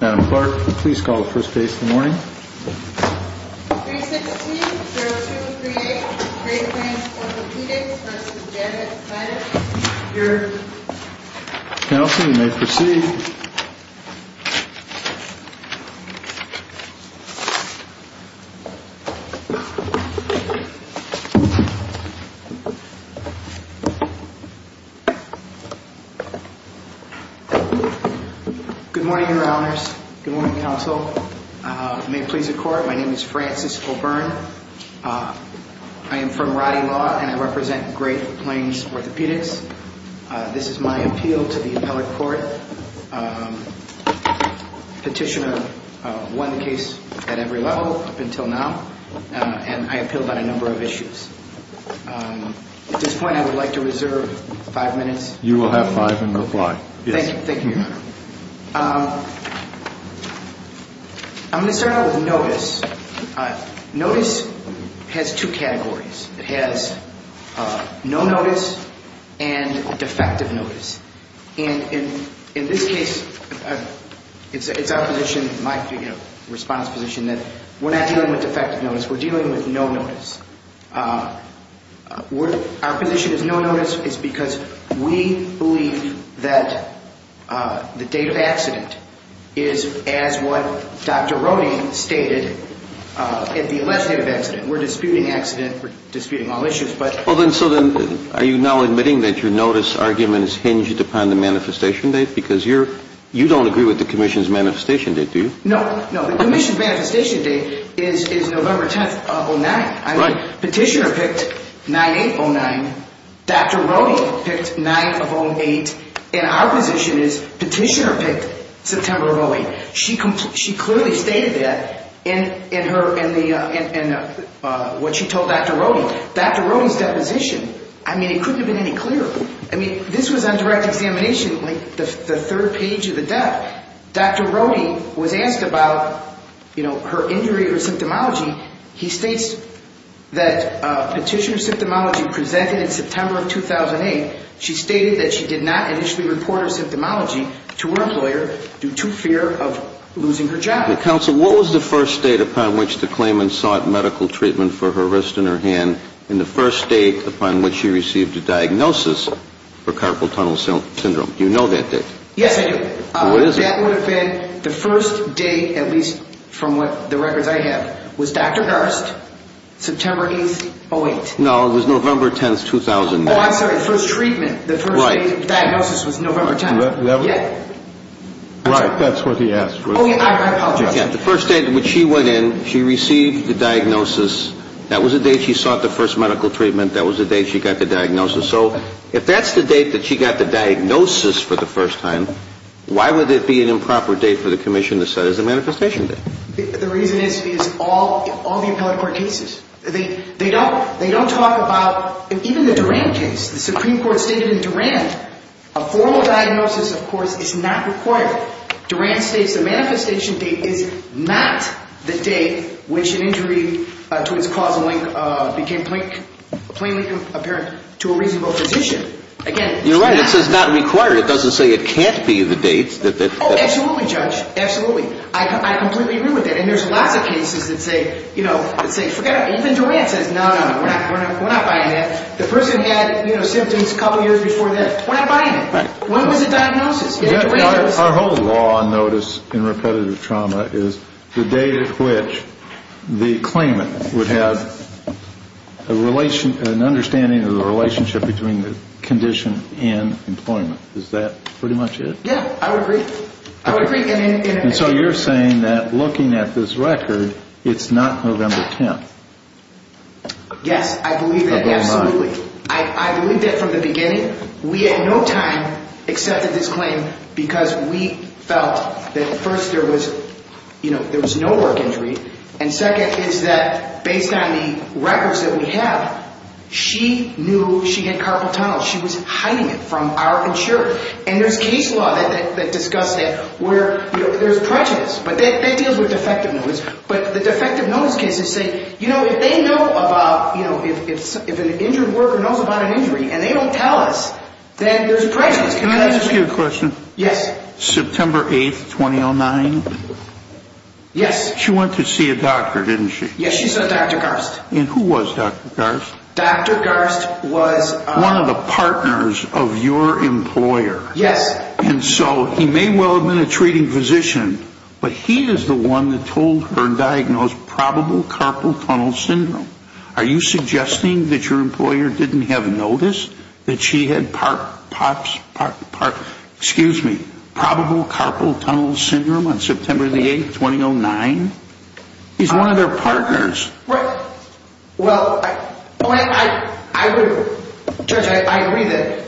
Madam Clerk, please call the first case in the morning. 316-0238 Great Plains Orthopedics v. Janet Snyder Your... Counsel, you may proceed. Good morning, Your Honors. Good morning, Counsel. May it please the Court, my name is Francis O'Byrne. I am from Roddy Law and I represent Great Plains Orthopedics. This is my appeal to the appellate court. Petitioner won the case at every level up until now and I appealed on a number of issues. At this point I would like to reserve five minutes. You will have five and reply. Thank you, Your Honor. I'm going to start out with notice. Notice has two categories. It has no notice and defective notice. And in this case, it's our position, my response position, that we're not dealing with defective notice. We're dealing with no notice. Our position is no notice is because we believe that the date of accident is as what Dr. Roddy stated, at the last date of accident. We're disputing accident, we're disputing all issues, but... Well then, so then, are you now admitting that your notice argument is hinged upon the manifestation date? Because you're... you don't agree with the Commission's manifestation date, do you? No, no. The Commission's manifestation date is November 10th of 09. Right. Petitioner picked 9-8-09. Dr. Roddy picked 9 of 08. And our position is Petitioner picked September of 08. She clearly stated that in what she told Dr. Roddy. Dr. Roddy's deposition, I mean, it couldn't have been any clearer. I mean, this was on direct examination, like the third page of the death. Dr. Roddy was asked about, you know, her injury or symptomology. He states that Petitioner's symptomology presented in September of 2008. She stated that she did not initially report her symptomology to her employer due to fear of losing her job. Counsel, what was the first date upon which the claimant sought medical treatment for her wrist and her hand, and the first date upon which she received a diagnosis for carpal tunnel syndrome? Do you know that date? Yes, I do. What is it? That would have been the first date, at least from the records I have, was Dr. Garst, September 8th, 08. No, it was November 10th, 2009. Oh, I'm sorry, the first treatment, the first date of diagnosis was November 10th. Yeah. Right, that's what he asked. Oh, yeah, I apologize. Yeah, the first date in which she went in, she received the diagnosis. That was the date she sought the first medical treatment. That was the date she got the diagnosis. So if that's the date that she got the diagnosis for the first time, why would it be an improper date for the commission to set as a manifestation date? The reason is all the appellate court cases. They don't talk about even the Durand case. The Supreme Court stated in Durand a formal diagnosis, of course, is not required. Durand states the manifestation date is not the date which an injury to its causal link became plainly apparent to a reasonable physician. Again, it's not. You're right, it says not required. It doesn't say it can't be the date. Oh, absolutely, Judge, absolutely. I completely agree with that. And there's lots of cases that say, you know, forget it. Even Durand says, no, no, no, we're not buying that. The person had symptoms a couple years before that. We're not buying it. When was the diagnosis? Our whole law notice in repetitive trauma is the date at which the claimant would have an understanding of the relationship between the condition and employment. Is that pretty much it? Yeah, I would agree. I would agree. And so you're saying that looking at this record, it's not November 10th? Yes, I believe that, absolutely. I believe that from the beginning. We at no time accepted this claim because we felt that first there was, you know, there was no work injury, and second is that based on the records that we have, she knew she had carpal tunnel. She was hiding it from our insurer. And there's case law that discusses it where, you know, there's prejudice. But that deals with defective notice. But the defective notice cases say, you know, if they know about, you know, if an injured worker knows about an injury and they don't tell us, then there's prejudice. Can I ask you a question? Yes. September 8th, 2009? Yes. She went to see a doctor, didn't she? Yes, she saw Dr. Garst. And who was Dr. Garst? Dr. Garst was... ...one of the partners of your employer. Yes. And so he may well have been a treating physician, but he is the one that told her to diagnose probable carpal tunnel syndrome. Are you suggesting that your employer didn't have notice that she had part, parts, excuse me, probable carpal tunnel syndrome on September 8th, 2009? He's one of their partners. Right. Well, I would, Judge, I agree that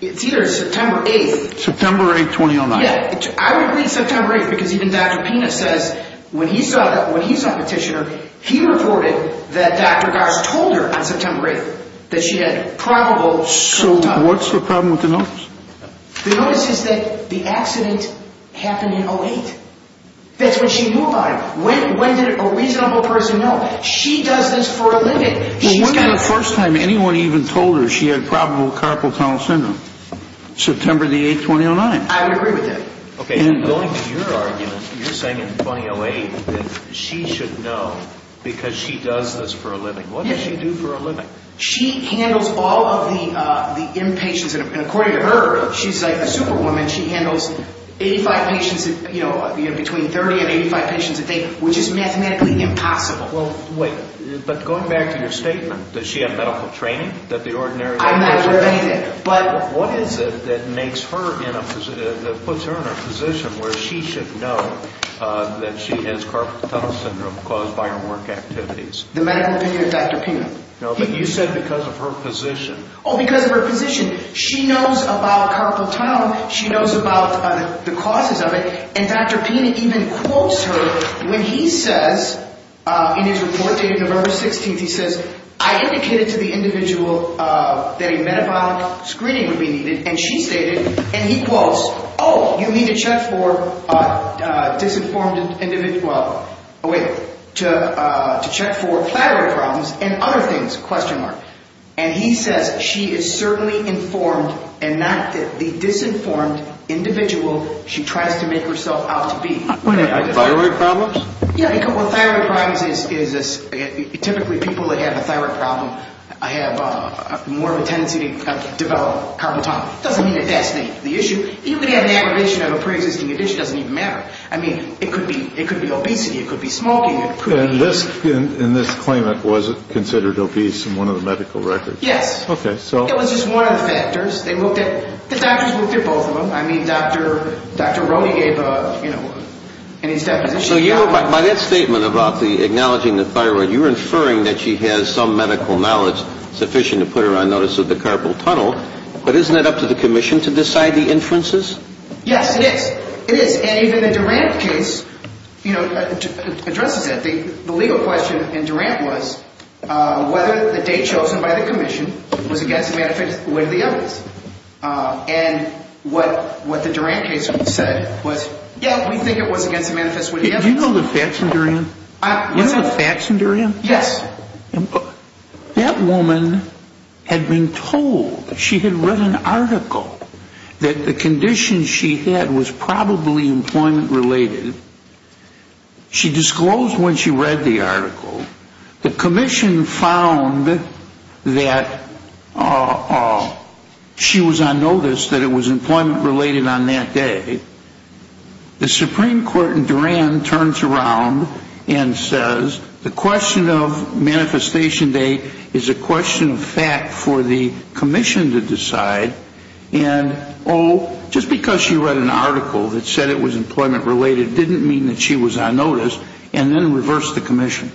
it's either September 8th... September 8th, 2009. Yeah. I would agree September 8th because even Dr. Pena says when he saw that, when he saw Petitioner, he reported that Dr. Garst told her on September 8th that she had probable carpal tunnel syndrome. So what's the problem with the notice? The notice is that the accident happened in 2008. That's when she moved on. When did a reasonable person know? She does this for a living. When was the first time anyone even told her she had probable carpal tunnel syndrome? September 8th, 2009. I would agree with that. Okay. And going to your argument, you're saying in 2008 that she should know because she does this for a living. What does she do for a living? She handles all of the inpatients, and according to her, she's like a superwoman. She handles 85 patients, you know, between 30 and 85 patients a day, which is mathematically impossible. Well, wait. But going back to your statement, does she have medical training? I'm not clear of anything. What is it that puts her in a position where she should know that she has carpal tunnel syndrome caused by her work activities? The medical opinion of Dr. Pena. No, but you said because of her position. Oh, because of her position. She knows about carpal tunnel. She knows about the causes of it, and Dr. Pena even quotes her when he says, in his report dated November 16th, he says, I indicated to the individual that a metabolic screening would be needed, and she stated, and he quotes, Oh, you need to check for disinformed individual. Wait. To check for platelet problems and other things, question mark. And he says she is certainly informed and not the disinformed individual she tries to make herself out to be. Wait a minute. Thyroid problems? Yeah. Well, thyroid problems is typically people that have a thyroid problem have more of a tendency to develop carpal tunnel. It doesn't mean that that's the issue. You could have an aggravation of a preexisting condition. It doesn't even matter. I mean, it could be obesity. It could be smoking. And this claimant was considered obese in one of the medical records. Yes. Okay, so. It was just one of the factors. The doctors looked at both of them. I mean, Dr. Rode gave a, you know, in his deposition. So by that statement about the acknowledging the thyroid, you're inferring that she has some medical knowledge sufficient to put her on notice of the carpal tunnel, but isn't it up to the commission to decide the inferences? Yes, it is. And even the Durant case, you know, addresses that. The legal question in Durant was whether the date chosen by the commission was against the manifest with the evidence. And what the Durant case said was, yeah, we think it was against the manifest with the evidence. Do you know the facts in Durant? You know the facts in Durant? Yes. That woman had been told, she had read an article, that the condition she had was probably employment-related. She disclosed when she read the article. The commission found that she was on notice that it was employment-related on that day. The Supreme Court in Durant turns around and says, the question of manifestation date is a question of fact for the commission to decide. And, oh, just because she read an article that said it was employment-related didn't mean that she was on notice, and then reversed the commission.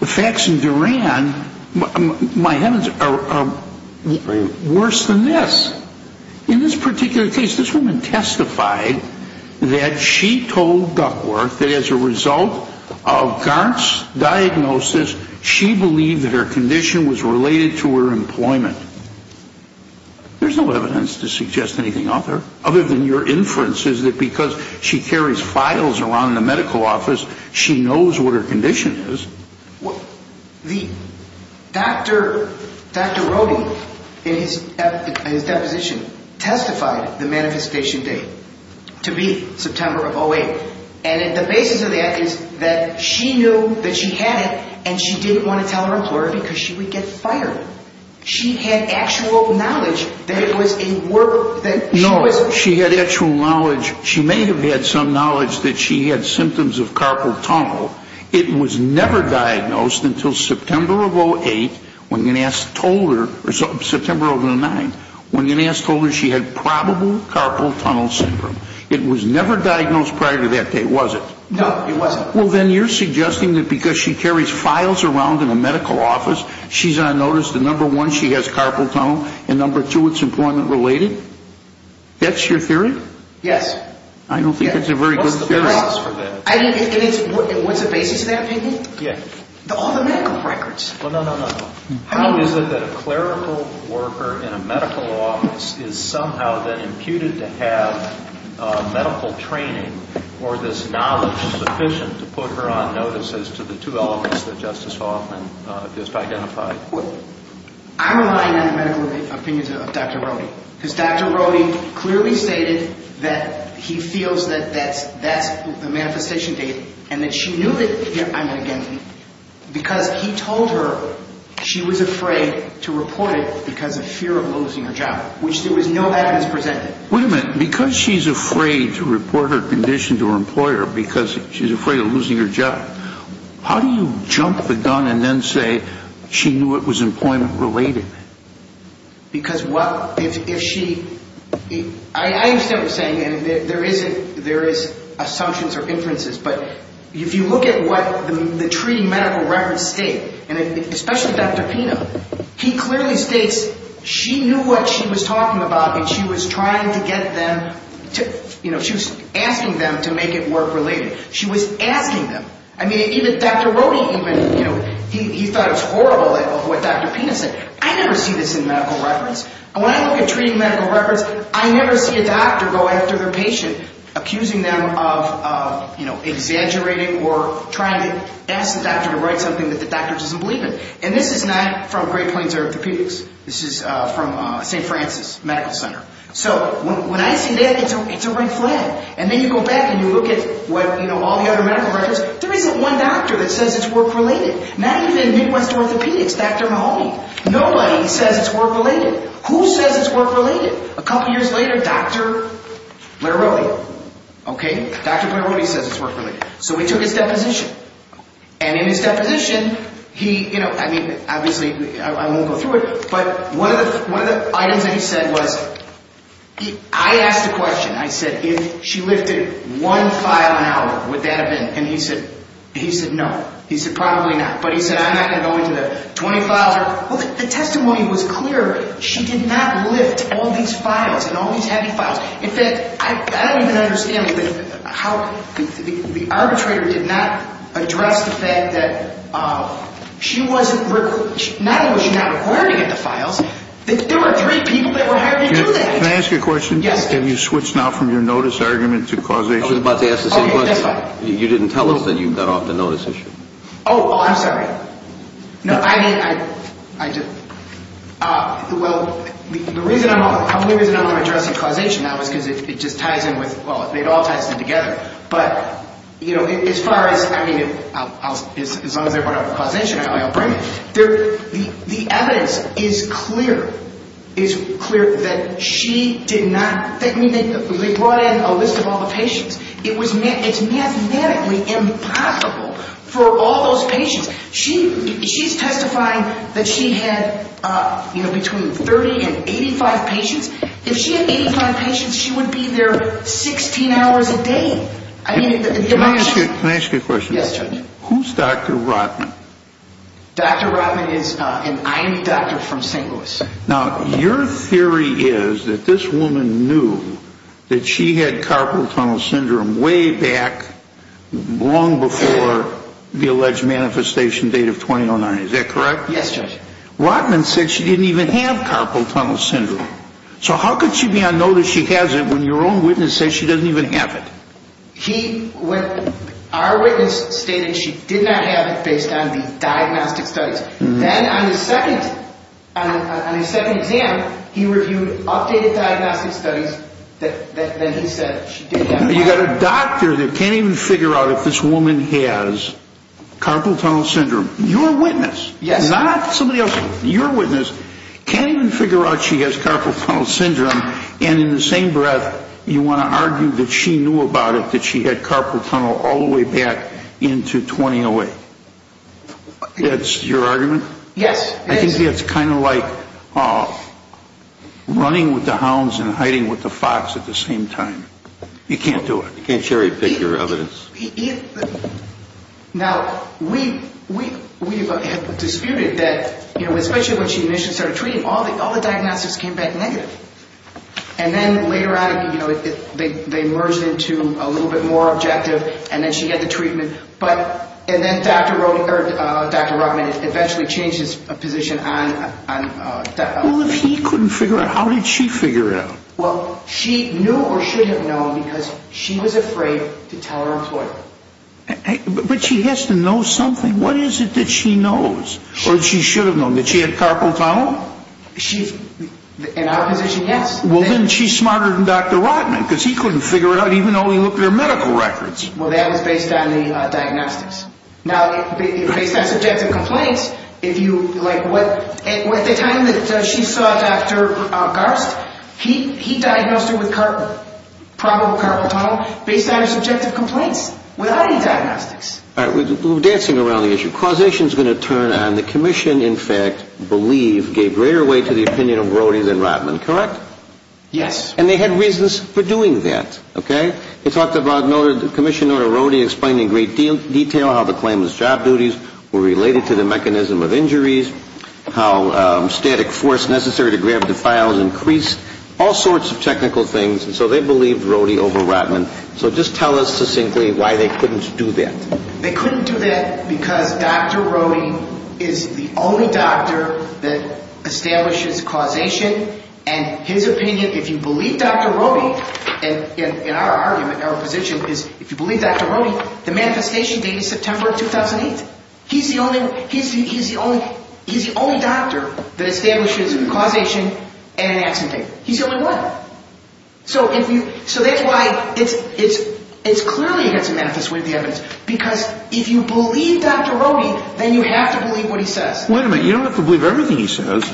The facts in Durant, my heavens, are worse than this. In this particular case, this woman testified that she told Duckworth that as a result of Garnt's diagnosis, she believed that her condition was related to her employment. There's no evidence to suggest anything other than your inferences that because she carries files around in the medical office, she knows what her condition is. Dr. Rohde, in his deposition, testified the manifestation date to be September of 2008. And the basis of that is that she knew that she had it, and she didn't want to tell her employer because she would get fired. She had actual knowledge that it was a work that she was doing. No, she had actual knowledge. She may have had some knowledge that she had symptoms of carpal tunnel. It was never diagnosed until September of 2008, when Ganass told her, or September of 2009, when Ganass told her she had probable carpal tunnel syndrome. It was never diagnosed prior to that date, was it? No, it wasn't. Well, then you're suggesting that because she carries files around in the medical office, she's on notice that, number one, she has carpal tunnel, and, number two, it's employment-related? That's your theory? I don't think that's a very good theory. What's the basis for that? What's the basis of that opinion? Yeah. All the medical records. Well, no, no, no. How is it that a clerical worker in a medical office is somehow then imputed to have medical training or this knowledge sufficient to put her on notice as to the two elements that Justice Hoffman just identified? Well, I'm relying on the medical opinions of Dr. Rohde, because Dr. Rohde clearly stated that he feels that that's the manifestation date and that she knew that, I mean, again, because he told her she was afraid to report it because of fear of losing her job, which there was no evidence presented. Wait a minute. Because she's afraid to report her condition to her employer, because she's afraid of losing her job, how do you jump the gun and then say she knew it was employment-related? Because, well, if she... I understand what you're saying, and there is assumptions or inferences, but if you look at what the treating medical records state, and especially Dr. Pino, he clearly states she knew what she was talking about, and she was trying to get them to, you know, she was asking them to make it work-related. She was asking them. I mean, even Dr. Rohde even, you know, he thought it was horrible of what Dr. Pino said. I never see this in medical records. And when I look at treating medical records, I never see a doctor go after their patient, accusing them of, you know, exaggerating or trying to ask the doctor to write something that the doctor doesn't believe in. And this is not from Great Plains Orthopedics. This is from St. Francis Medical Center. So when I see that, it's a red flag. And then you go back and you look at, you know, all the other medical records, there isn't one doctor that says it's work-related. Not even Midwest Orthopedics, Dr. Mahoney. Nobody says it's work-related. Who says it's work-related? A couple years later, Dr. Blair Rohde. Okay, Dr. Blair Rohde says it's work-related. So he took his deposition. And in his deposition, he, you know, I mean, obviously I won't go through it, but one of the items that he said was, I asked a question. I said, if she lifted one file an hour, would that have been? And he said, no. He said, probably not. But he said, I'm not going to go into the 20 files. Well, the testimony was clear. She did not lift all these files and all these heavy files. In fact, I don't even understand how the arbitrator did not address the fact that she wasn't, not only was she not required to get the files, there were three people that were hired to do that. Can I ask you a question? Yes. Have you switched now from your notice argument to causation? I was about to ask the same question. You didn't tell us that you got off the notice issue. Oh, I'm sorry. No, I didn't. Well, the reason I'm addressing causation now is because it just ties in with, well, it all ties in together. But, you know, as far as, I mean, as long as they brought up causation, I'll bring it. The evidence is clear, is clear that she did not, I mean, they brought in a list of all the patients. It's mathematically impossible for all those patients. She's testifying that she had, you know, between 30 and 85 patients. If she had 85 patients, she would be there 16 hours a day. Can I ask you a question? Yes, Judge. Who's Dr. Rotman? Dr. Rotman is an IM doctor from St. Louis. Now, your theory is that this woman knew that she had carpal tunnel syndrome way back, long before the alleged manifestation date of 2009. Is that correct? Yes, Judge. Rotman said she didn't even have carpal tunnel syndrome. So how could she be on notice she has it when your own witness says she doesn't even have it? Our witness stated she did not have it based on the diagnostic studies. Then on his second exam, he reviewed updated diagnostic studies that he said she did have it. Now, you've got a doctor that can't even figure out if this woman has carpal tunnel syndrome. Your witness, not somebody else's, your witness can't even figure out she has carpal tunnel syndrome, and in the same breath you want to argue that she knew about it, that she had carpal tunnel all the way back into 2008. Yes, it is. It's kind of like running with the hounds and hiding with the fox at the same time. You can't do it. You can't cherry pick your evidence. Now, we have disputed that, especially when she initially started treating, all the diagnostics came back negative. And then later on, they merged into a little bit more objective, and then she had the treatment. And then Dr. Rotman eventually changed his position. Well, if he couldn't figure it out, how did she figure it out? Well, she knew or should have known because she was afraid to tell her employer. But she has to know something. What is it that she knows or that she should have known, that she had carpal tunnel? In our position, yes. Well, then she's smarter than Dr. Rotman because he couldn't figure it out, even though he looked at her medical records. Well, that was based on the diagnostics. Now, based on subjective complaints, at the time that she saw Dr. Garst, he diagnosed her with probable carpal tunnel based on her subjective complaints without any diagnostics. All right, we're dancing around the issue. Causation is going to turn on. The commission, in fact, believed, gave greater weight to the opinion of Brody than Rotman. Correct? Yes. And they had reasons for doing that. They talked about Commissioner Brody explaining in great detail how the claimant's job duties were related to the mechanism of injuries, how static force necessary to grab the files increased, all sorts of technical things. And so they believed Brody over Rotman. So just tell us succinctly why they couldn't do that. They couldn't do that because Dr. Brody is the only doctor that establishes causation. And his opinion, if you believe Dr. Brody, in our argument, our position, is if you believe Dr. Brody, the manifestation date is September 2008. He's the only doctor that establishes causation and an accident date. He's the only one. So that's why it's clearly against the manifest way of the evidence because if you believe Dr. Brody, then you have to believe what he says. Wait a minute. You don't have to believe everything he says.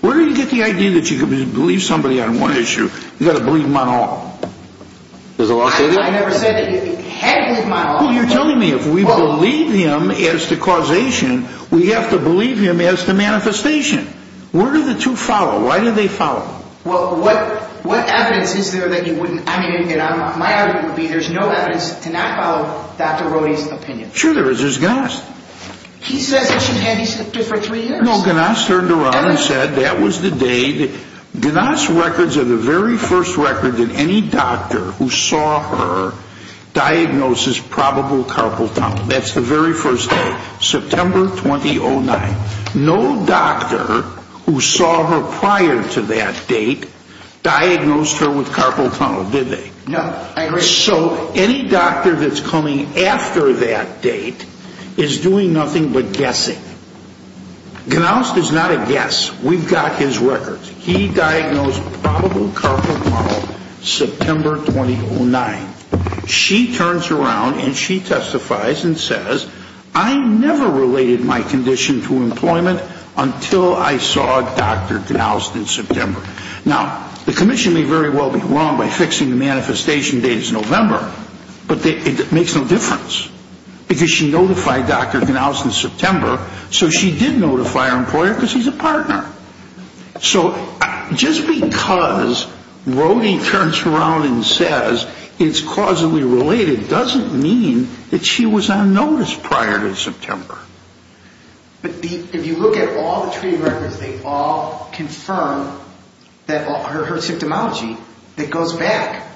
Where do you get the idea that you can believe somebody on one issue? You've got to believe him on all. I never said that you had to believe him on all. Well, you're telling me if we believe him as to causation, we have to believe him as to manifestation. Where do the two follow? Why do they follow? Well, what evidence is there that you wouldn't? I mean, my argument would be there's no evidence to not follow Dr. Brody's opinion. Sure there is. There's Gnast. He says it shouldn't have existed for three years. No, Gnast turned around and said that was the date. Gnast records are the very first record that any doctor who saw her diagnosed as probable carpal tunnel. That's the very first day, September 2009. No doctor who saw her prior to that date diagnosed her with carpal tunnel, did they? No, I agree. So any doctor that's coming after that date is doing nothing but guessing. Gnast is not a guess. We've got his records. He diagnosed probable carpal tunnel September 2009. She turns around and she testifies and says, I never related my condition to employment until I saw Dr. Gnast in September. Now, the commission may very well be wrong by fixing the manifestation date as November, but it makes no difference because she notified Dr. Gnast in September, so she did notify her employer because he's a partner. So just because Brody turns around and says it's causally related doesn't mean that she was on notice prior to September. But if you look at all the treaty records, they all confirm her symptomology that goes back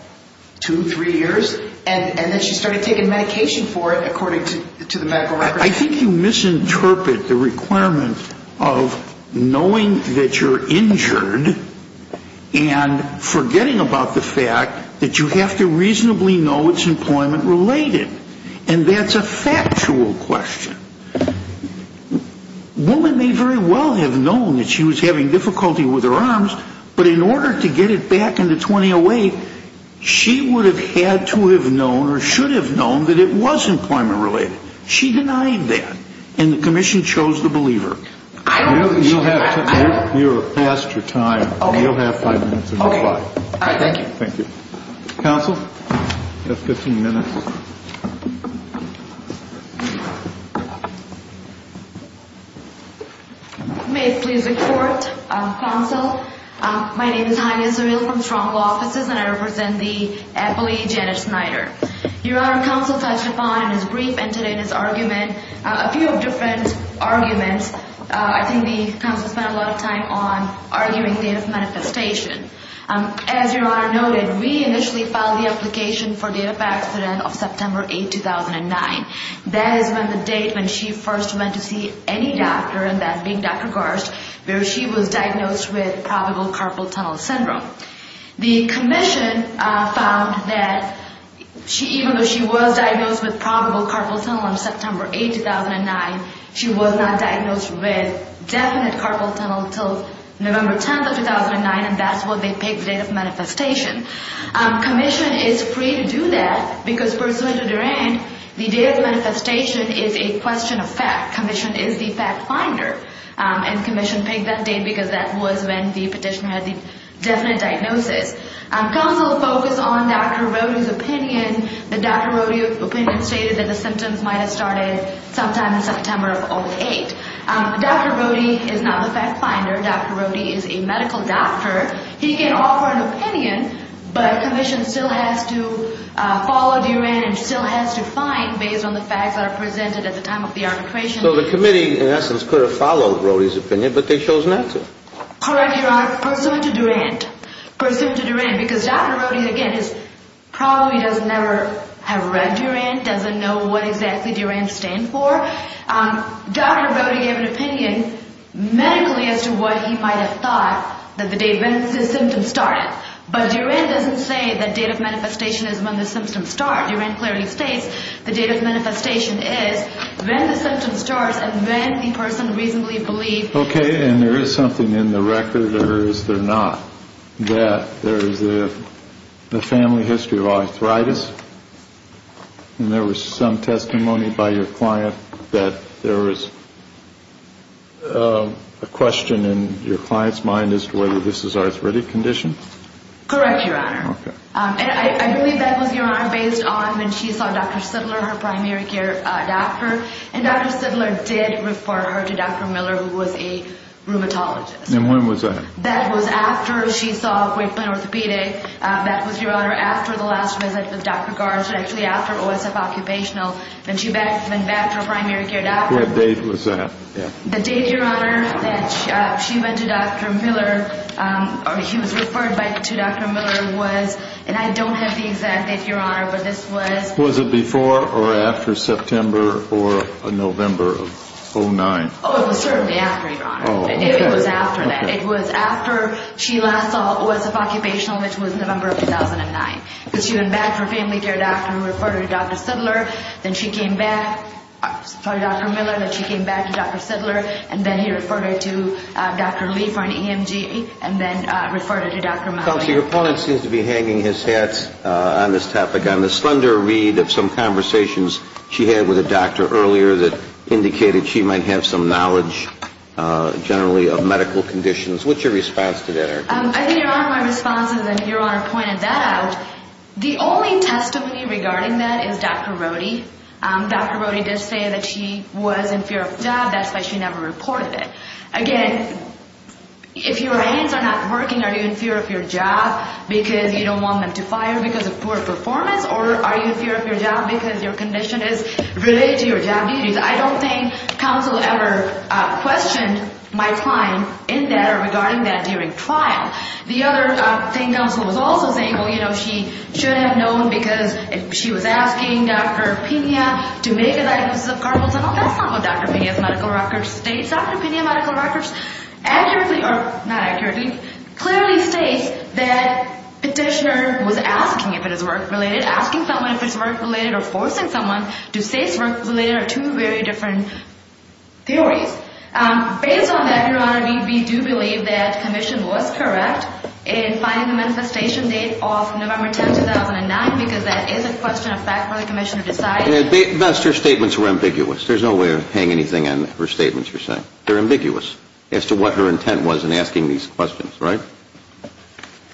two, three years, and then she started taking medication for it according to the medical records. I think you misinterpret the requirement of knowing that you're injured and forgetting about the fact that you have to reasonably know it's employment related, and that's a factual question. A woman may very well have known that she was having difficulty with her arms, but in order to get it back into 2008, she would have had to have known or should have known that it was employment related. She denied that, and the commission chose the believer. You're past your time. You'll have five minutes to reply. Thank you. Thank you. Counsel, you have 15 minutes. May it please the Court. Counsel, my name is Jaime Israel from Strong Law Offices, and I represent the appellee Janet Snyder. Your Honor, Counsel touched upon in his brief and today in his argument a few different arguments. I think the counsel spent a lot of time on arguing the manifestation. As Your Honor noted, we initially filed the application for date of accident of September 8, 2009. That is when the date when she first went to see any doctor, and that being Dr. Garst, where she was diagnosed with probable carpal tunnel syndrome. The commission found that even though she was diagnosed with probable carpal tunnel on September 8, 2009, she was not diagnosed with definite carpal tunnel until November 10, 2009, and that's when they picked the date of manifestation. Commission is free to do that because pursuant to Durand, the date of manifestation is a question of fact. Commission is the fact finder, and commission picked that date because that was when the petitioner had the definite diagnosis. Counsel focused on Dr. Rodeo's opinion. The Dr. Rodeo opinion stated that the symptoms might have started sometime in September of 2008. Dr. Rodeo is not the fact finder. Dr. Rodeo is a medical doctor. He can offer an opinion, but commission still has to follow Durand and still has to find based on the facts that are presented at the time of the arbitration. So the committee, in essence, could have followed Rodeo's opinion, but they chose not to. Correct, Your Honor. But pursuant to Durand, because Dr. Rodeo, again, probably does never have read Durand, doesn't know what exactly Durand stands for, Dr. Rodeo gave an opinion medically as to what he might have thought that the day when the symptoms started. But Durand doesn't say the date of manifestation is when the symptoms start. Durand clearly states the date of manifestation is when the symptoms start and when the person reasonably believed. Okay, and there is something in the record, or is there not, that there is a family history of arthritis. And there was some testimony by your client that there was a question in your client's mind as to whether this is an arthritic condition. Correct, Your Honor. And I believe that was, Your Honor, based on when she saw Dr. Siddler, her primary care doctor. And Dr. Siddler did refer her to Dr. Miller, who was a rheumatologist. And when was that? That was after she saw Grapevine Orthopedic. That was, Your Honor, after the last visit with Dr. Garza, actually after OSF Occupational, when she went back to her primary care doctor. What date was that? The date, Your Honor, that she went to Dr. Miller, or he was referred to Dr. Miller was, and I don't have the exact date, Your Honor, but this was... Was it before or after September or November of 2009? Oh, it was certainly after, Your Honor. Oh, okay. It was after that. It was after she last saw OSF Occupational, which was November of 2009. Because she went back to her family care doctor and referred her to Dr. Siddler, then she came back to Dr. Miller, then she came back to Dr. Siddler, and then he referred her to Dr. Liefer and EMG, and then referred her to Dr. Mahoney. Counselor, your opponent seems to be hanging his hat on this topic, on the slender read of some conversations she had with a doctor earlier that indicated she might have some knowledge generally of medical conditions. What's your response to that, Erica? I think Your Honor, my response is, and Your Honor pointed that out, the only testimony regarding that is Dr. Rohde. Dr. Rohde did say that she was in fear of death. That's why she never reported it. Again, if your hands are not working, are you in fear of your job because you don't want them to fire because of poor performance, or are you in fear of your job because your condition is related to your job duties? I don't think counsel ever questioned my claim in that or regarding that during trial. The other thing counsel was also saying, well, you know, she should have known because she was asking Dr. Pena to make a diagnosis of carpal tunnel. Well, that's not what Dr. Pena's medical records state. Dr. Pena's medical records accurately, or not accurately, clearly states that petitioner was asking if it is work-related, asking someone if it's work-related or forcing someone to say it's work-related are two very different theories. Based on that, Your Honor, we do believe that the commission was correct in finding the manifestation date of November 10, 2009 because that is a question of fact for the commission to decide. At best, her statements were ambiguous. There's no way of hanging anything on her statements you're saying. They're ambiguous as to what her intent was in asking these questions, right?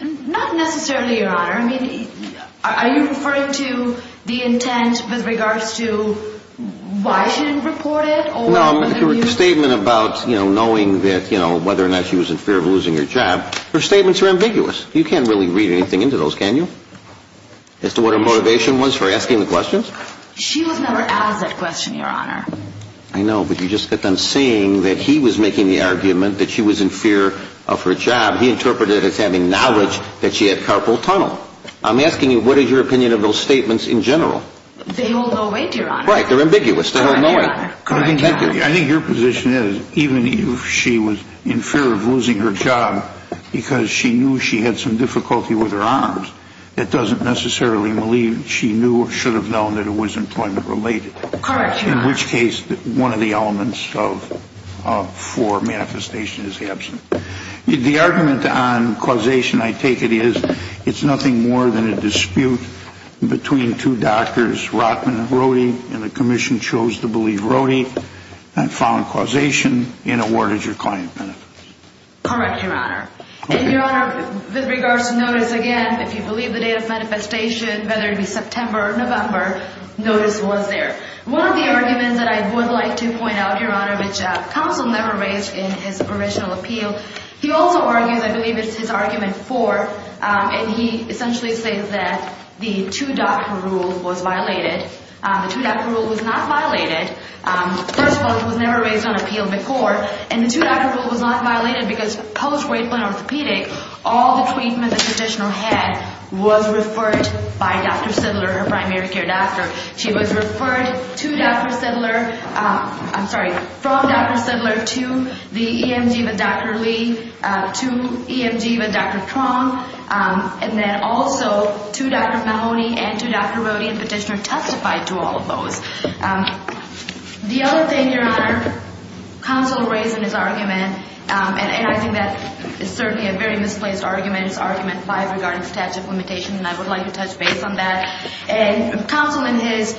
Not necessarily, Your Honor. I mean, are you referring to the intent with regards to why she didn't report it? No, I'm referring to her statement about, you know, knowing that, you know, whether or not she was in fear of losing her job. Her statements are ambiguous. You can't really read anything into those, can you, as to what her motivation was for asking the questions? She was never asked that question, Your Honor. I know, but you just get them saying that he was making the argument that she was in fear of her job. He interpreted it as having knowledge that she had carpal tunnel. I'm asking you, what is your opinion of those statements in general? They hold no weight, Your Honor. Right, they're ambiguous. They hold no weight. I think your position is, even if she was in fear of losing her job because she knew she had some difficulty with her arms, it doesn't necessarily mean she knew or should have known that it was employment-related. Correct, Your Honor. In which case, one of the elements for manifestation is absent. The argument on causation, I take it, is it's nothing more than a dispute between two doctors, Rockman and Rohde, and the Commission chose to believe Rohde and found causation and awarded her client benefits. Correct, Your Honor. And, Your Honor, with regards to notice, again, if you believe the date of manifestation, whether it be September or November, notice was there. One of the arguments that I would like to point out, Your Honor, which counsel never raised in his original appeal, he also argues, I believe it's his argument four, and he essentially says that the two-doctor rule was violated. The two-doctor rule was not violated. First of all, it was never raised on appeal in the court, and the two-doctor rule was not violated because post-rape and orthopedic, all the treatment the petitioner had was referred by Dr. Siddler, her primary care doctor. She was referred to Dr. Siddler, I'm sorry, from Dr. Siddler, to the EMG with Dr. Lee, to EMG with Dr. Truong, and then also to Dr. Mahoney and to Dr. Rohde, and the petitioner testified to all of those. The other thing, Your Honor, counsel raised in his argument, and I think that is certainly a very misplaced argument, his argument five regarding statute of limitation, and I would like to touch base on that. And counsel in his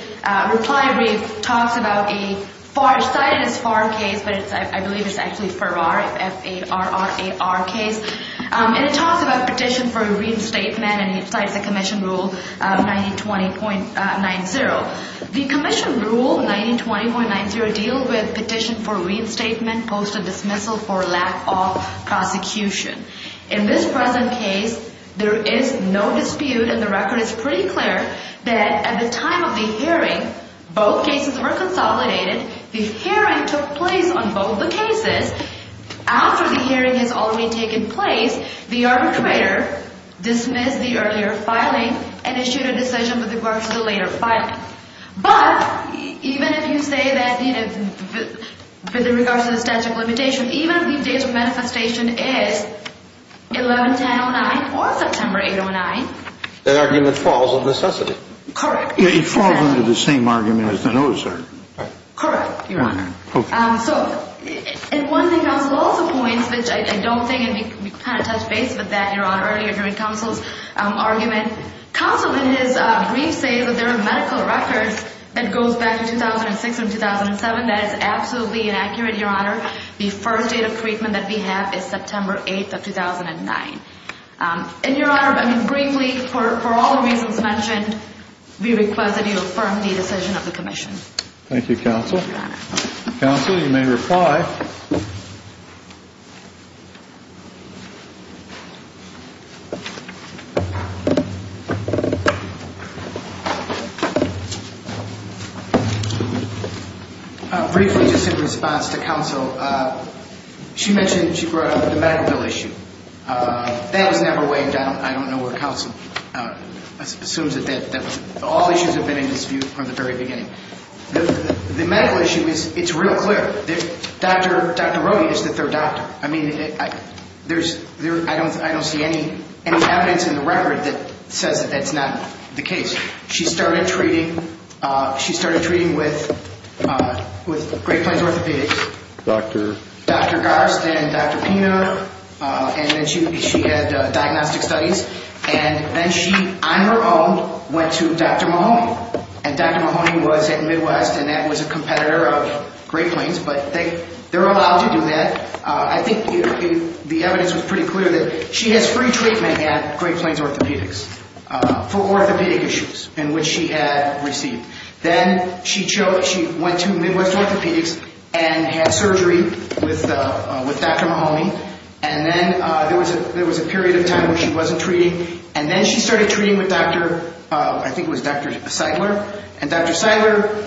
reply brief talks about a FAR, cited as FAR case, but I believe it's actually FARR, F-A-R-R-A-R case, and it talks about petition for a reinstatement, and he cites the commission rule 9020.90. The commission rule 9020.90 deals with petition for reinstatement, post of dismissal for lack of prosecution. In this present case, there is no dispute, and the record is pretty clear that at the time of the hearing, both cases were consolidated. The hearing took place on both the cases. After the hearing has already taken place, the arbitrator dismissed the earlier filing and issued a decision with regards to the later filing. But even if you say that, you know, with regards to the statute of limitation, even if the date of manifestation is 11-10-09 or September 8-09. That argument falls on necessity. Correct. It falls under the same argument as the notice, right? Correct, Your Honor. Okay. So, and one thing counsel also points, which I don't think we can touch base with that, Your Honor, because it was mentioned earlier during counsel's argument. Counsel, in his brief, says that there are medical records that goes back to 2006 and 2007. That is absolutely inaccurate, Your Honor. The first date of treatment that we have is September 8-09. And, Your Honor, I mean, briefly, for all the reasons mentioned, we request that you affirm the decision of the commission. Thank you, counsel. Your Honor. Counsel, you may reply. Briefly, just in response to counsel, she mentioned she brought up the medical bill issue. That was never weighed down. I don't know where counsel assumes that that was. All issues have been in dispute from the very beginning. The medical issue is, it's real clear. Dr. Rohde is the third doctor. I don't think there's any other medical issue. I don't think there's any evidence in the record that says that that's not the case. She started treating with Great Plains Orthopedics. Dr.? Dr. Garst and Dr. Pina. And then she had diagnostic studies. And then she, on her own, went to Dr. Mahoney. And Dr. Mahoney was at Midwest, and that was a competitor of Great Plains. But they're allowed to do that. I think the evidence was pretty clear that she has free treatment at Great Plains Orthopedics for orthopedic issues in which she had received. Then she went to Midwest Orthopedics and had surgery with Dr. Mahoney. And then there was a period of time where she wasn't treating. And then she started treating with Dr.? I think it was Dr.? And Dr.?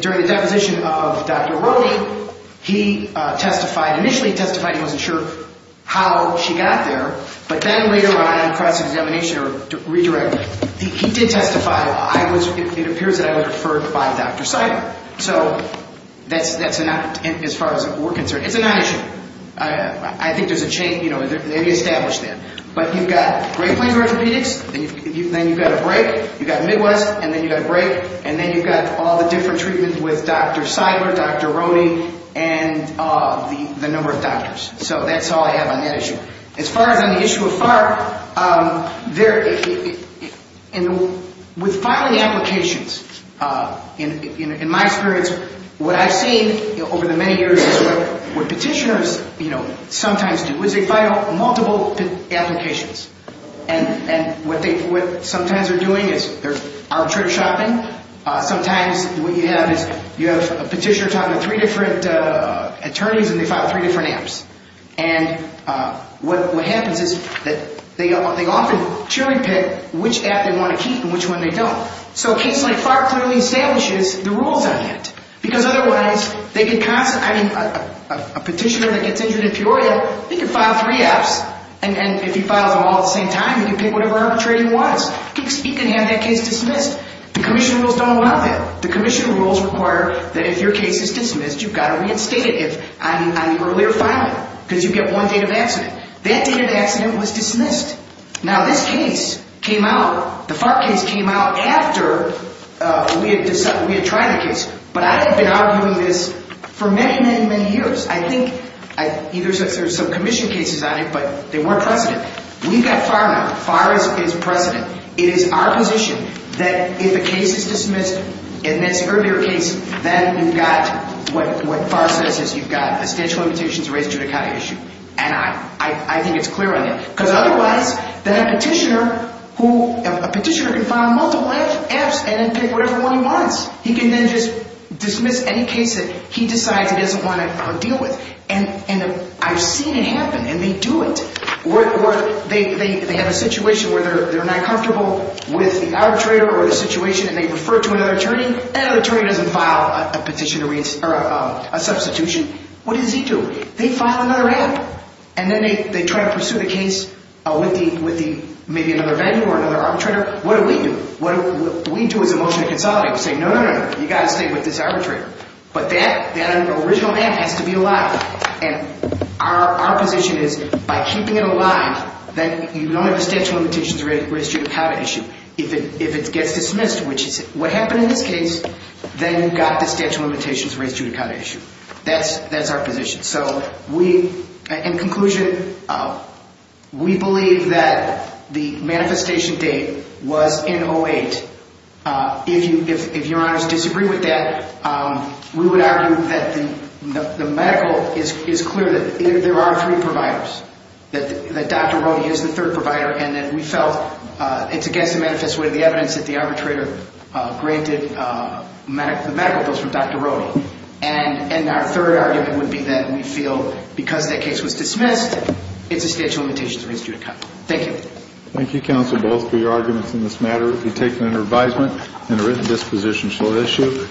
During the deposition of Dr. Rohde, he testified. Initially, he testified he wasn't sure how she got there. But then later on, on cross-examination or redirect, he did testify. It appears that I was referred by Dr.? So that's not as far as we're concerned. It's a non-issue. I think there's a chain. They've established that. But you've got Great Plains Orthopedics. Then you've got a break. You've got Midwest. And then you've got a break. And then you've got all the different treatments with Dr. Seidler, Dr. Rohde, and the number of doctors. So that's all I have on that issue. As far as on the issue of FARC, with filing applications, in my experience, what I've seen over the many years is what petitioners sometimes do is they file multiple applications. And what sometimes they're doing is they're arbitrage shopping. Sometimes what you have is you have a petitioner talking to three different attorneys, and they file three different apps. And what happens is that they often cheer and pick which app they want to keep and which one they don't. So a case like FARC clearly establishes the rules on that. Because otherwise, they could constantly? I mean, a petitioner that gets injured in Peoria, he could file three apps. And if he files them all at the same time, he can pick whatever arbitrage he wants. He can have that case dismissed. The commission rules don't allow that. The commission rules require that if your case is dismissed, you've got to reinstate it on the earlier filing. Because you get one date of accident. That date of accident was dismissed. Now, this case came out, the FARC case came out after we had tried the case. But I have been arguing this for many, many, many years. I think either there's some commission cases on it, but they weren't precedent. We've got FAR now. FAR is precedent. It is our position that if a case is dismissed in this earlier case, then you've got what FAR says is you've got a statute of limitations raised judicata issue. And I think it's clear on that. Because otherwise, then a petitioner can file multiple apps and then pick whatever one he wants. He can then just dismiss any case that he decides he doesn't want to deal with. And I've seen it happen, and they do it. They have a situation where they're not comfortable with the arbitrator or the situation, and they refer to another attorney. That other attorney doesn't file a substitution. What does he do? They file another app. And then they try to pursue the case with maybe another vendor or another arbitrator. What do we do? What we do is emotionally consolidate. We say, no, no, no, you've got to stay with this arbitrator. But that original app has to be allowed. And our position is by keeping it alive, then you don't have a statute of limitations raised judicata issue. If it gets dismissed, which is what happened in this case, then you've got the statute of limitations raised judicata issue. That's our position. In conclusion, we believe that the manifestation date was in 08. If your honors disagree with that, we would argue that the medical is clear that there are three providers, that Dr. Rohde is the third provider, and that we felt it's against the manifest way of the evidence that the arbitrator granted the medical bills from Dr. Rohde. And our third argument would be that we feel because that case was dismissed, it's a statute of limitations raised judicata. Thank you. Thank you, counsel, both, for your arguments in this matter. It will be taken under advisement and a written disposition shall issue.